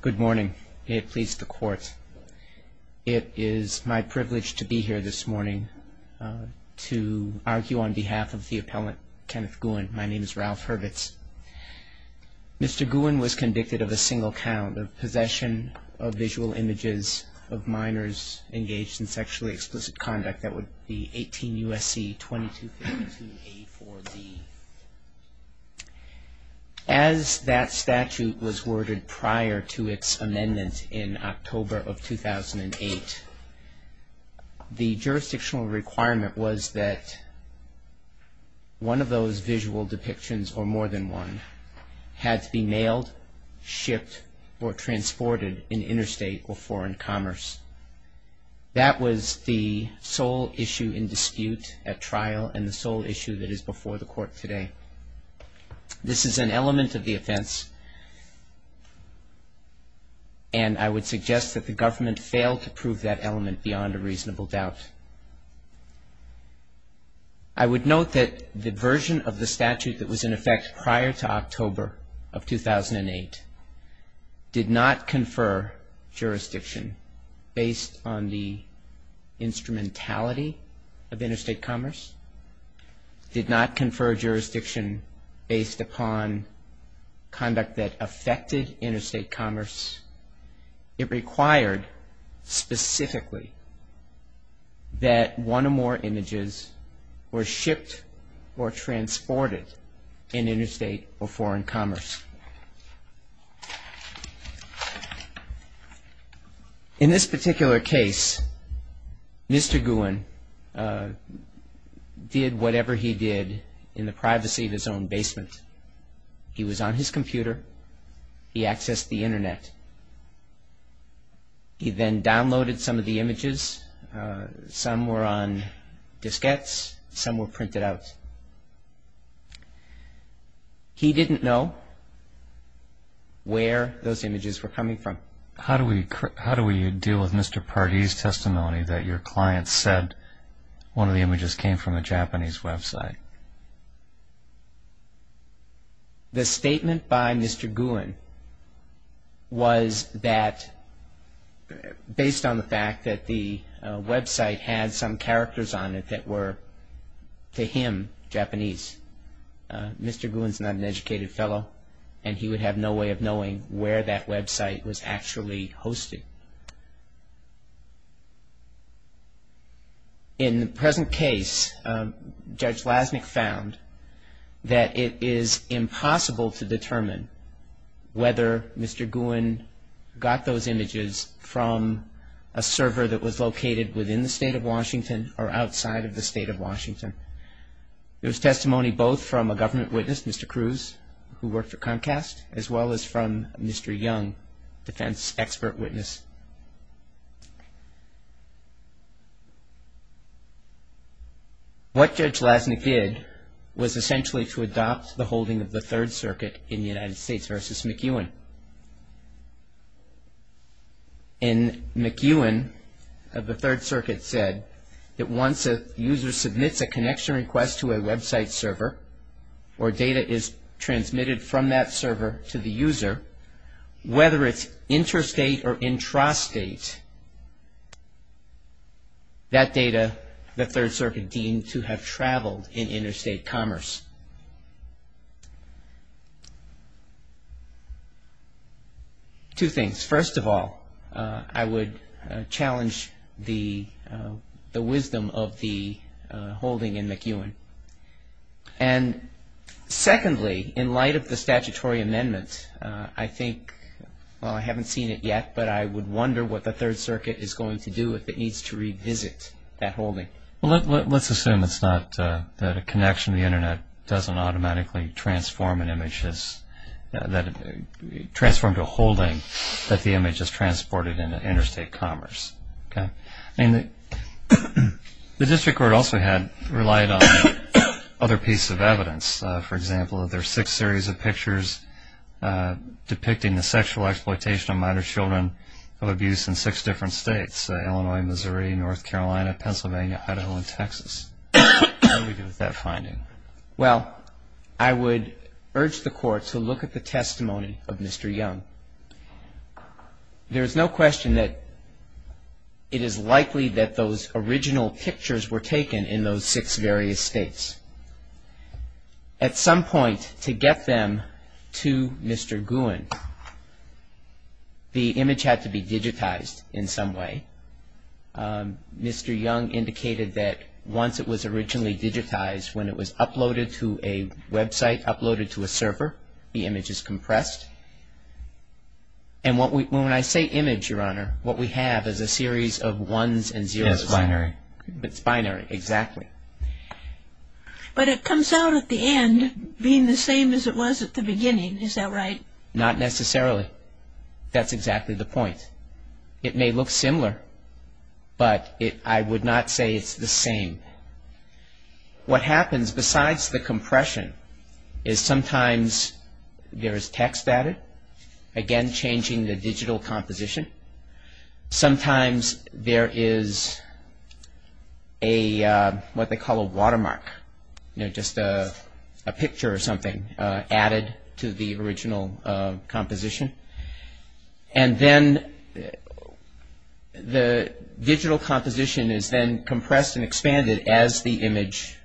Good morning. May it please the court. It is my privilege to be here this morning to argue on behalf of the appellant Kenneth Gouin. My name is Ralph Hurwitz. Mr. Gouin was convicted of a single count of possession of visual images of minors engaged in sexually explicit conduct. That would be 18 U.S.C. 2252A4B. As that statute was worded prior to its amendment in October of 2008, the jurisdictional requirement was that one of those visual depictions or more than one had to be mailed, shipped, or transported in interstate or foreign commerce. That was the sole issue in dispute at trial and the sole issue that is before the court today. This is an element of the offense, and I would suggest that the government fail to prove that element beyond a reasonable doubt. I would note that the version of the statute that was in effect prior to October of 2008 did not confer jurisdiction based on the instrumentality of interstate commerce, did not confer jurisdiction based upon conduct that affected interstate commerce. It required specifically that one or more images were shipped or transported in interstate or foreign commerce. In this particular case, Mr. Gouin did whatever he did in the privacy of his own basement. He was on his computer. He accessed the Internet. He then downloaded some of the images. Some were on diskettes. Some were printed out. He didn't know where those images were coming from. How do we deal with Mr. Pardee's testimony that your client said one of the images came from a Japanese website? The statement by Mr. Gouin was based on the fact that the website had some characters on it that were, to him, Japanese. Mr. Gouin is not an educated fellow, and he would have no way of knowing where that website was actually hosted. In the present case, Judge Lasnik found that it is impossible to determine whether Mr. Gouin got those images from a server that was located within the state of Washington or outside of the state of Washington. It was testimony both from a government witness, Mr. Cruz, who worked for Comcast, as well as from Mr. Young, defense expert witness. What Judge Lasnik did was essentially to adopt the holding of the Third Circuit in the United States versus McEwen. And McEwen of the Third Circuit said that once a user submits a connection request to a website server, or data is transmitted from that server to the user, whether it's interstate or intrastate, that data the Third Circuit deemed to have traveled in interstate commerce. Two things. First of all, I would challenge the wisdom of the holding in McEwen. And secondly, in light of the statutory amendment, I think, well, I haven't seen it yet, but I would wonder what the Third Circuit is going to do if it needs to revisit that holding. Well, let's assume it's not that a connection to the Internet doesn't automatically transform an image, transform to a holding, that the image is transported into interstate commerce. I mean, the district court also had relied on other pieces of evidence. For example, there are six series of pictures depicting the sexual exploitation of minor children of abuse in six different states, Illinois, Missouri, North Carolina, Pennsylvania, Idaho, and Texas. What do we do with that finding? Well, I would urge the court to look at the testimony of Mr. Young. There is no question that it is likely that those original pictures were taken in those six various states. At some point, to get them to Mr. Gouin, the image had to be digitized in some way. Mr. Young indicated that once it was originally digitized, when it was uploaded to a website, uploaded to a server, the image is compressed. And when I say image, Your Honor, what we have is a series of ones and zeros. It's binary. It's binary, exactly. But it comes out at the end being the same as it was at the beginning, is that right? Not necessarily. That's exactly the point. It may look similar, but I would not say it's the same. What happens besides the compression is sometimes there is text added, again, changing the digital composition. Sometimes there is what they call a watermark, just a picture or something added to the original composition. And then the digital composition is then compressed and expanded as the image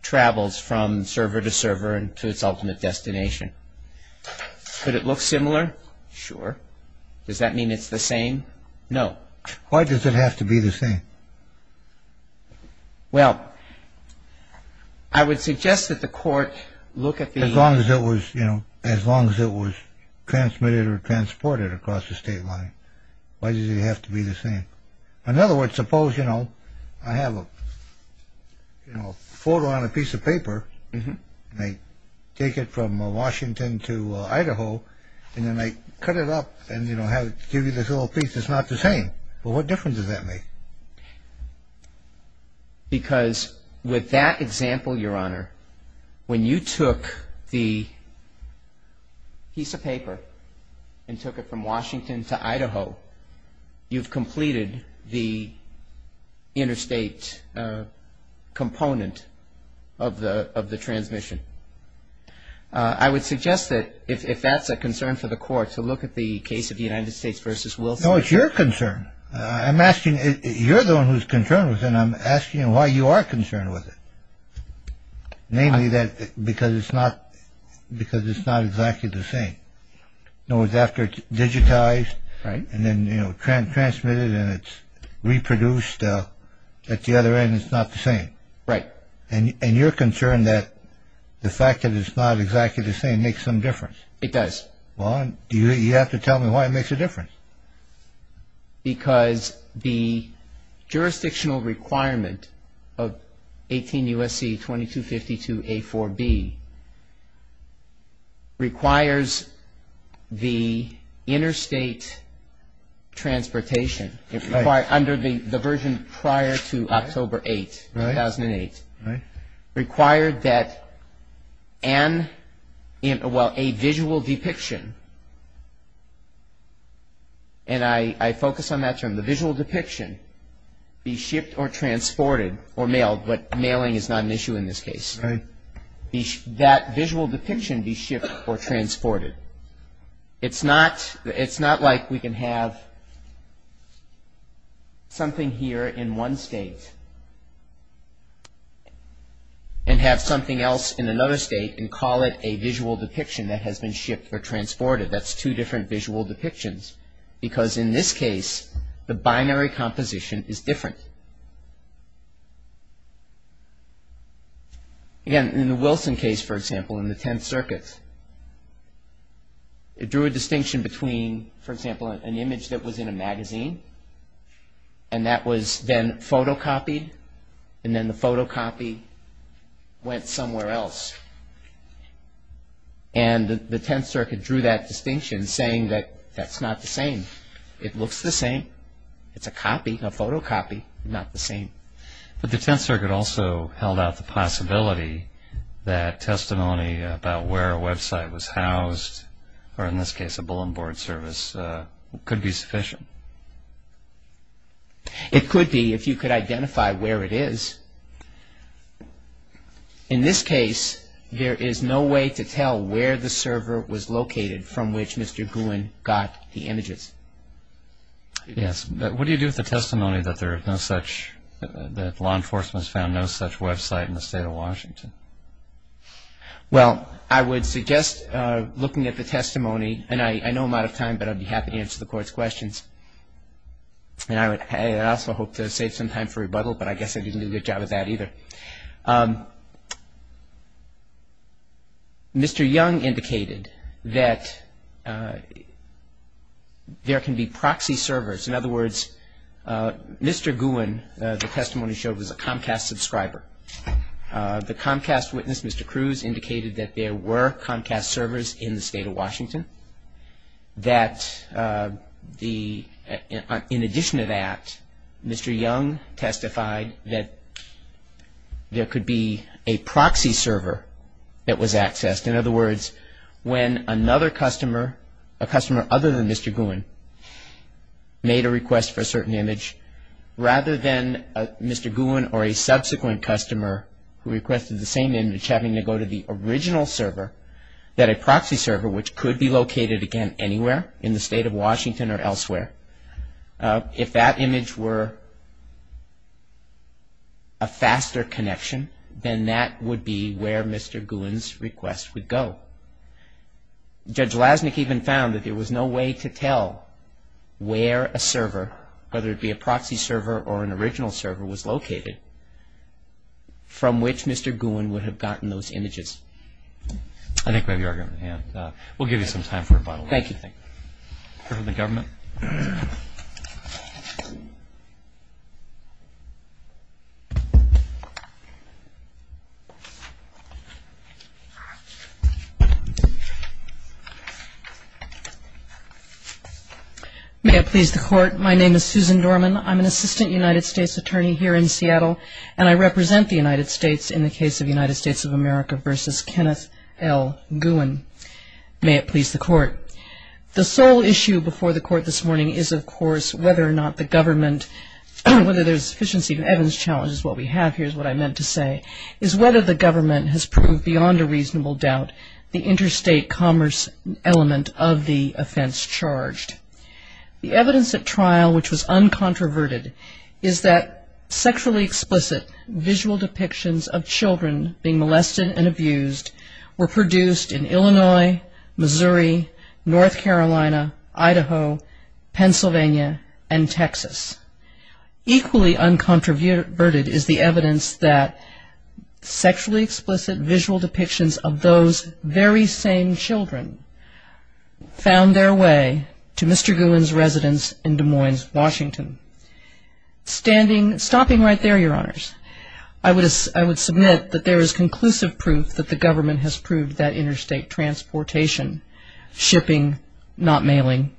travels from server to server and to its ultimate destination. Could it look similar? Sure. Does that mean it's the same? No. Why does it have to be the same? Well, I would suggest that the court look at the... As long as it was, you know, as long as it was transmitted or transported across the state line. Why does it have to be the same? In other words, suppose, you know, I have a photo on a piece of paper, and I take it from Washington to Idaho, and then I cut it up and, you know, give you this little piece that's not the same. Well, what difference does that make? Because with that example, Your Honor, when you took the piece of paper and took it from Washington to Idaho, you've completed the interstate component of the transmission. I would suggest that if that's a concern for the court to look at the case of the United States v. Wilson. No, it's your concern. I'm asking, you're the one who's concerned with it, and I'm asking why you are concerned with it. Namely, because it's not exactly the same. In other words, after it's digitized and then, you know, transmitted and it's reproduced, at the other end it's not the same. Right. And you're concerned that the fact that it's not exactly the same makes some difference. It does. Well, you have to tell me why it makes a difference. Because the jurisdictional requirement of 18 U.S.C. 2252A4B requires the interstate transportation, under the version prior to October 8, 2008, required that a visual depiction, and I focus on that term, the visual depiction be shipped or transported or mailed, but mailing is not an issue in this case. Right. That visual depiction be shipped or transported. It's not like we can have something here in one state and have something else in another state and call it a visual depiction that has been shipped or transported. That's two different visual depictions, because in this case, the binary composition is different. Again, in the Wilson case, for example, in the Tenth Circuit, it drew a distinction between, for example, an image that was in a magazine and that was then photocopied and then the photocopy went somewhere else. And the Tenth Circuit drew that distinction saying that that's not the same. It looks the same. It's a copy, a photocopy. Not the same. But the Tenth Circuit also held out the possibility that testimony about where a website was housed, or in this case, a bull and board service, could be sufficient. It could be if you could identify where it is. In this case, there is no way to tell where the server was located from which Mr. Gouin got the images. Yes. What do you do with the testimony that law enforcement has found no such website in the state of Washington? Well, I would suggest looking at the testimony, and I know I'm out of time, but I'd be happy to answer the Court's questions. And I also hope to save some time for rebuttal, but I guess I didn't do a good job of that either. Okay. Mr. Young indicated that there can be proxy servers. In other words, Mr. Gouin, the testimony showed, was a Comcast subscriber. The Comcast witness, Mr. Cruz, indicated that there were Comcast servers in the state of Washington. That in addition to that, Mr. Young testified that there could be a proxy server that was accessed. In other words, when another customer, a customer other than Mr. Gouin, made a request for a certain image, rather than Mr. Gouin or a subsequent customer who requested the same image having to go to the original server, that a proxy server, which could be located, again, anywhere in the state of Washington or elsewhere, if that image were a faster connection, then that would be where Mr. Gouin's request would go. Judge Lasnik even found that there was no way to tell where a server, whether it be a proxy server or an original server, was located from which Mr. Gouin would have gotten those images. I think we have your argument at hand. We'll give you some time for rebuttal. Thank you. The government. May it please the Court. My name is Susan Dorman. I'm an assistant United States attorney here in Seattle, and I represent the United States in the case of United States of America v. Kenneth L. Gouin. May it please the Court. My question to the Court this morning is, of course, whether or not the government, whether there's sufficiency to Evans' challenge is what we have here is what I meant to say, is whether the government has proved beyond a reasonable doubt the interstate commerce element of the offense charged. The evidence at trial, which was uncontroverted, is that sexually explicit visual depictions of children being molested were produced in Illinois, Missouri, North Carolina, Idaho, Pennsylvania, and Texas. Equally uncontroverted is the evidence that sexually explicit visual depictions of those very same children found their way to Mr. Gouin's residence in Des Moines, Washington. Standing, stopping right there, Your Honors, I would submit that there is conclusive proof that the government has proved that interstate transportation, shipping, not mailing,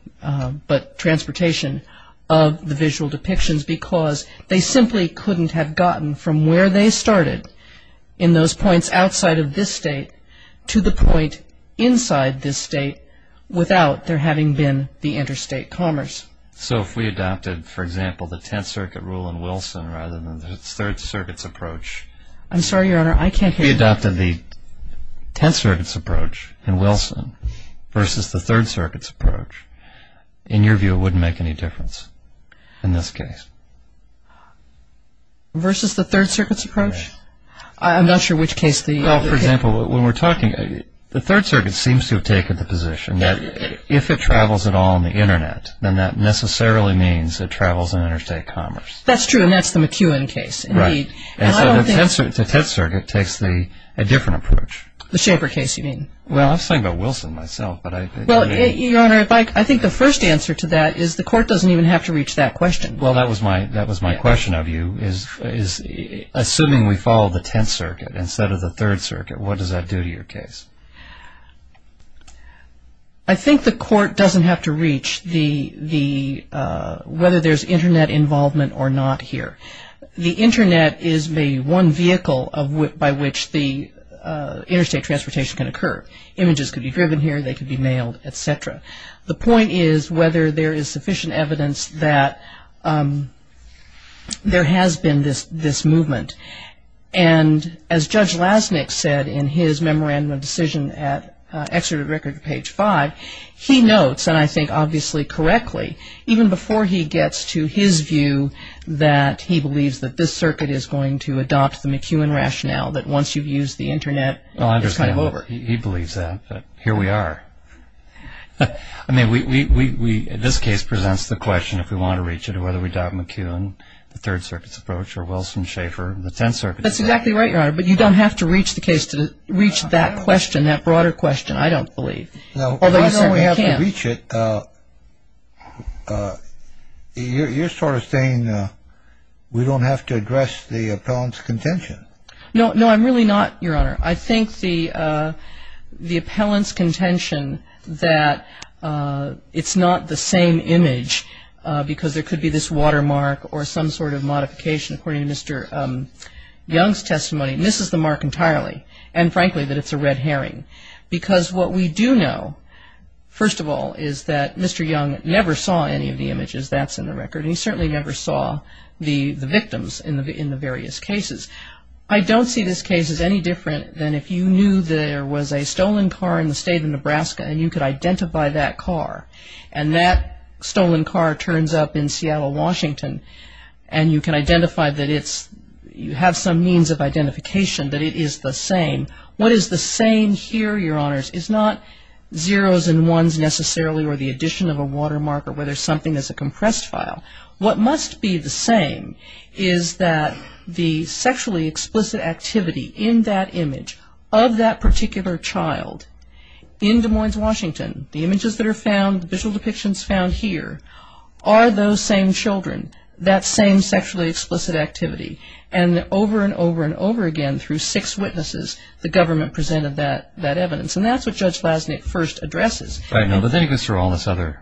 but transportation of the visual depictions because they simply couldn't have gotten from where they started in those points outside of this state to the point inside this state without there having been the interstate commerce. So if we adopted, for example, the Tenth Circuit rule in Wilson rather than the Third Circuit's approach... I'm sorry, Your Honor, I can't hear you. If we adopted the Tenth Circuit's approach in Wilson versus the Third Circuit's approach, in your view it wouldn't make any difference in this case. Versus the Third Circuit's approach? I'm not sure which case the... Well, for example, when we're talking, the Third Circuit seems to have taken the position that if it travels at all on the Internet, then that necessarily means it travels in interstate commerce. That's true, and that's the McEwen case. Right. And so the Tenth Circuit takes a different approach. The Schaefer case, you mean? Well, I'm talking about Wilson myself, but I... Well, Your Honor, I think the first answer to that is the court doesn't even have to reach that question. Well, that was my question of you, is assuming we follow the Tenth Circuit instead of the Third Circuit, what does that do to your case? I think the court doesn't have to reach whether there's Internet involvement or not here. The Internet is the one vehicle by which the interstate transportation can occur. Images can be driven here, they can be mailed, et cetera. The point is whether there is sufficient evidence that there has been this movement. And as Judge Lasnik said in his memorandum of decision at Exeter Record, page 5, he notes, and I think obviously correctly, even before he gets to his view that he believes that this circuit is going to adopt the McEwen rationale, that once you've used the Internet, it's kind of over. He believes that, but here we are. I mean, this case presents the question, if we want to reach it, whether we adopt McEwen, the Third Circuit's approach, or Wilson-Shafer, the Tenth Circuit's approach. That's exactly right, Your Honor, but you don't have to reach the case to reach that question, that broader question, I don't believe. Although you certainly can. Now, why don't we have to reach it? You're sort of saying we don't have to address the appellant's contention. No, I'm really not, Your Honor. I think the appellant's contention that it's not the same image because there could be this watermark or some sort of modification, according to Mr. Young's testimony, misses the mark entirely. And frankly, that it's a red herring. Because what we do know, first of all, is that Mr. Young never saw any of the images. That's in the record. And he certainly never saw the victims in the various cases. I don't see this case as any different than if you knew there was a stolen car in the state of Nebraska and you could identify that car. And that stolen car turns up in Seattle, Washington, and you can identify that you have some means of identification that it is the same. What is the same here, Your Honors, is not zeros and ones necessarily or the addition of a watermark or whether something is a compressed file. What must be the same is that the sexually explicit activity in that image of that particular child in Des Moines, Washington, the images that are found, the visual depictions found here, are those same children, that same sexually explicit activity. And over and over and over again through six witnesses, the government presented that evidence. And that's what Judge Glasnick first addresses. He goes through all the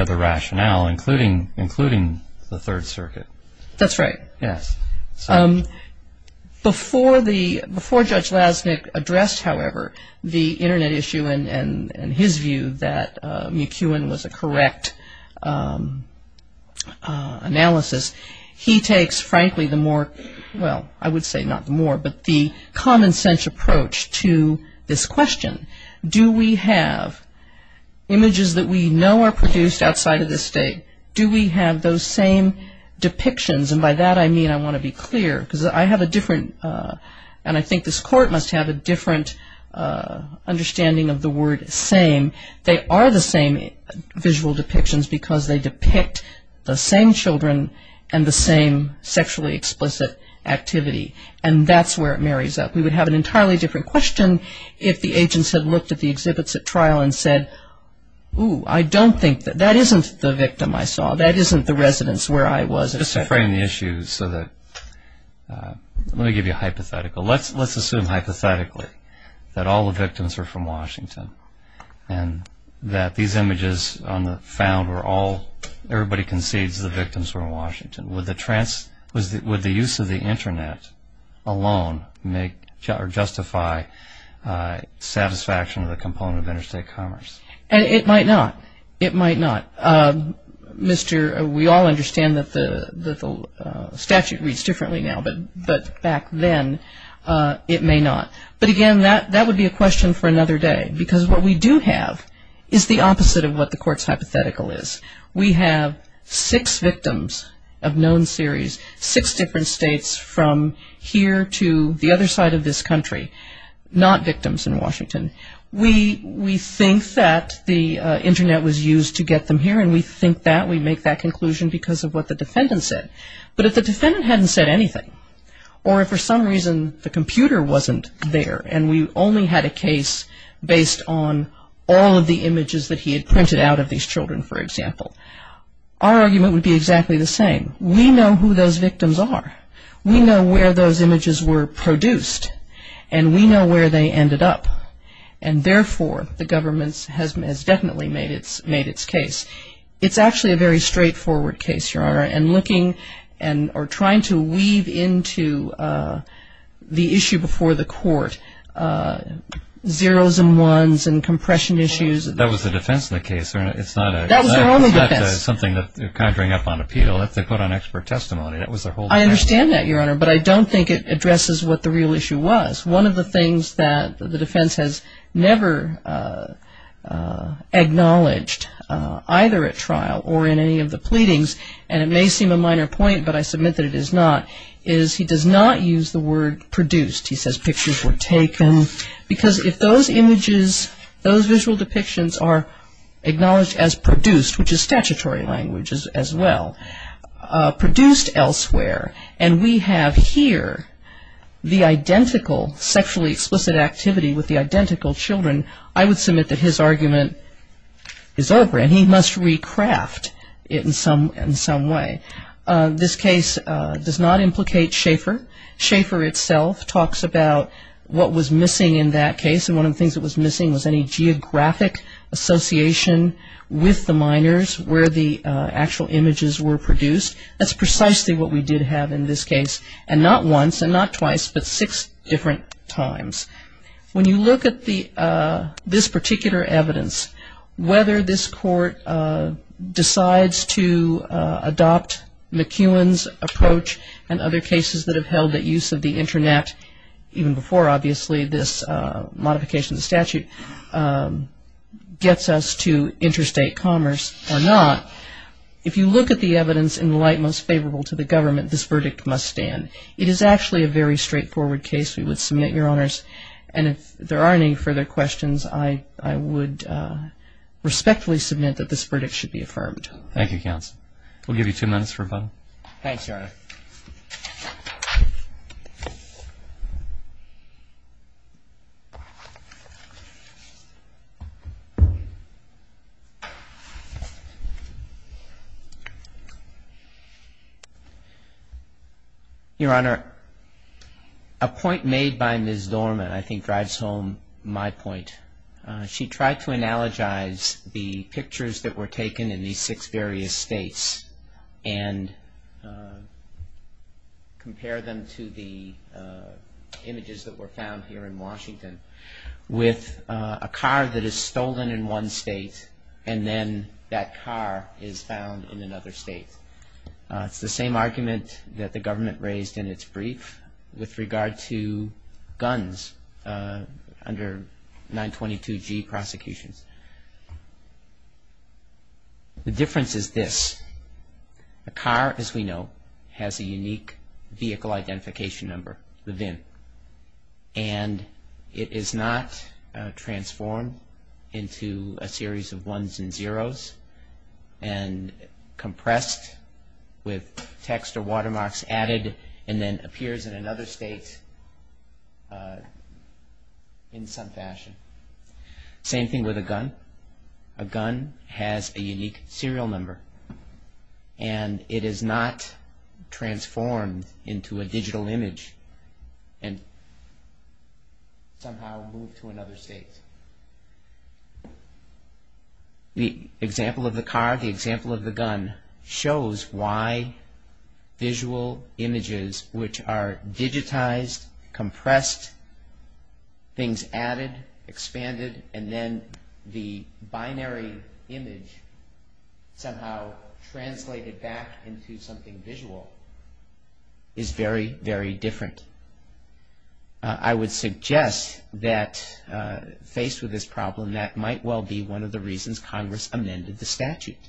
other rationale, including the Third Circuit. That's right. Before Judge Glasnick addressed, however, the Internet issue and his view that McEwen was a correct analysis, he takes, frankly, the more, well, I would say not the more, but the common sense approach to this question. Do we have images that we know are produced outside of the state? Do we have those same depictions? And by that I mean I want to be clear because I have a different and I think this Court must have a different understanding of the word same. They are the same visual depictions because they depict the same children and the same sexually explicit activity. And that's where it marries up. We would have an entirely different question if the agents had looked at the exhibits at trial and said, ooh, I don't think that, that isn't the victim I saw. That isn't the residence where I was. Just to frame the issue so that, let me give you a hypothetical. Let's assume hypothetically that all the victims are from Washington and that these images found were all, everybody concedes the victims were in Washington. Would the use of the Internet alone make or justify satisfaction of the component of interstate commerce? It might not. It might not. We all understand that the statute reads differently now, but back then it may not. But, again, that would be a question for another day because what we do have is the opposite of what the Court's hypothetical is. We have six victims of known series, six different states, from here to the other side of this country, not victims in Washington. We think that the Internet was used to get them here, and we think that. We make that conclusion because of what the defendant said. But if the defendant hadn't said anything, or if for some reason the computer wasn't there and we only had a case based on all of the images that he had printed out of these children, for example, our argument would be exactly the same. We know who those victims are. We know where those images were produced, and we know where they ended up. And, therefore, the government has definitely made its case. It's actually a very straightforward case, Your Honor, and looking or trying to weave into the issue before the Court, zeros and ones and compression issues. That was the defense in the case, Your Honor. That was their own defense. It's not something that they're conjuring up on appeal. That's what they put on expert testimony. I understand that, Your Honor, but I don't think it addresses what the real issue was. One of the things that the defense has never acknowledged, either at trial or in any of the pleadings, and it may seem a minor point, but I submit that it is not, is he does not use the word produced. He says pictures were taken because if those images, those visual depictions are acknowledged as produced, which is statutory language as well, produced elsewhere, and we have here the identical sexually explicit activity with the identical children, I would submit that his argument is over, and he must recraft it in some way. This case does not implicate Schaeffer. Schaeffer itself talks about what was missing in that case, and one of the things that was missing was any geographic association with the minors where the actual images were produced. That's precisely what we did have in this case, and not once and not twice, but six different times. When you look at this particular evidence, whether this court decides to adopt McEwen's approach and other cases that have held that use of the internet, even before obviously this modification of statute gets us to interstate commerce or not, if you look at the evidence in light most favorable to the government, this verdict must stand. It is actually a very straightforward case, we would submit, Your Honors, and if there are any further questions, I would respectfully submit that this verdict should be affirmed. Thank you, Counsel. We'll give you two minutes for rebuttal. Thanks, Your Honor. Your Honor, a point made by Ms. Dorman I think drives home my point. She tried to analogize the pictures that were taken in these six various states and compare them to the images that were found here in Washington with a car that is stolen in one state and then that car is found in another state. It's the same argument that the government raised in its brief with regard to guns under 922G prosecutions. The difference is this. A car, as we know, has a unique vehicle identification number within and it is not transformed into a series of ones and zeros and compressed with text or watermarks added and then appears in another state in some fashion. Same thing with a gun. A gun has a unique serial number and it is not transformed into a digital image and somehow moved to another state. The example of the car, the example of the gun, shows why visual images which are digitized, compressed, things added, expanded, and then the binary image somehow translated back into something visual is very, very different. I would suggest that faced with this problem, that might well be one of the reasons Congress amended the statute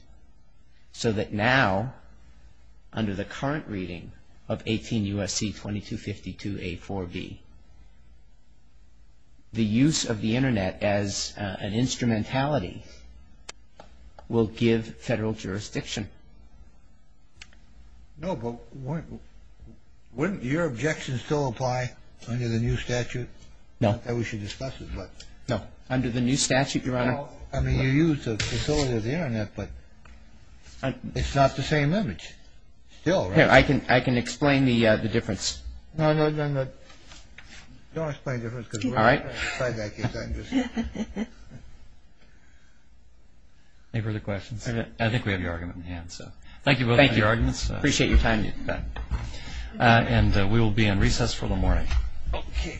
so that now under the current reading of 18 U.S.C. 2252A4B, the use of the Internet as an instrumentality will give federal jurisdiction. No, but wouldn't your objections still apply under the new statute? Under the new statute, Your Honor? Well, I mean, you use the facility of the Internet, but it's not the same image. I can explain the difference. No, no, no, no. Don't explain the difference. All right. Any further questions? I think we have your argument in hand. Thank you both for your arguments. Appreciate your time. And we will be in recess for the morning. Okay.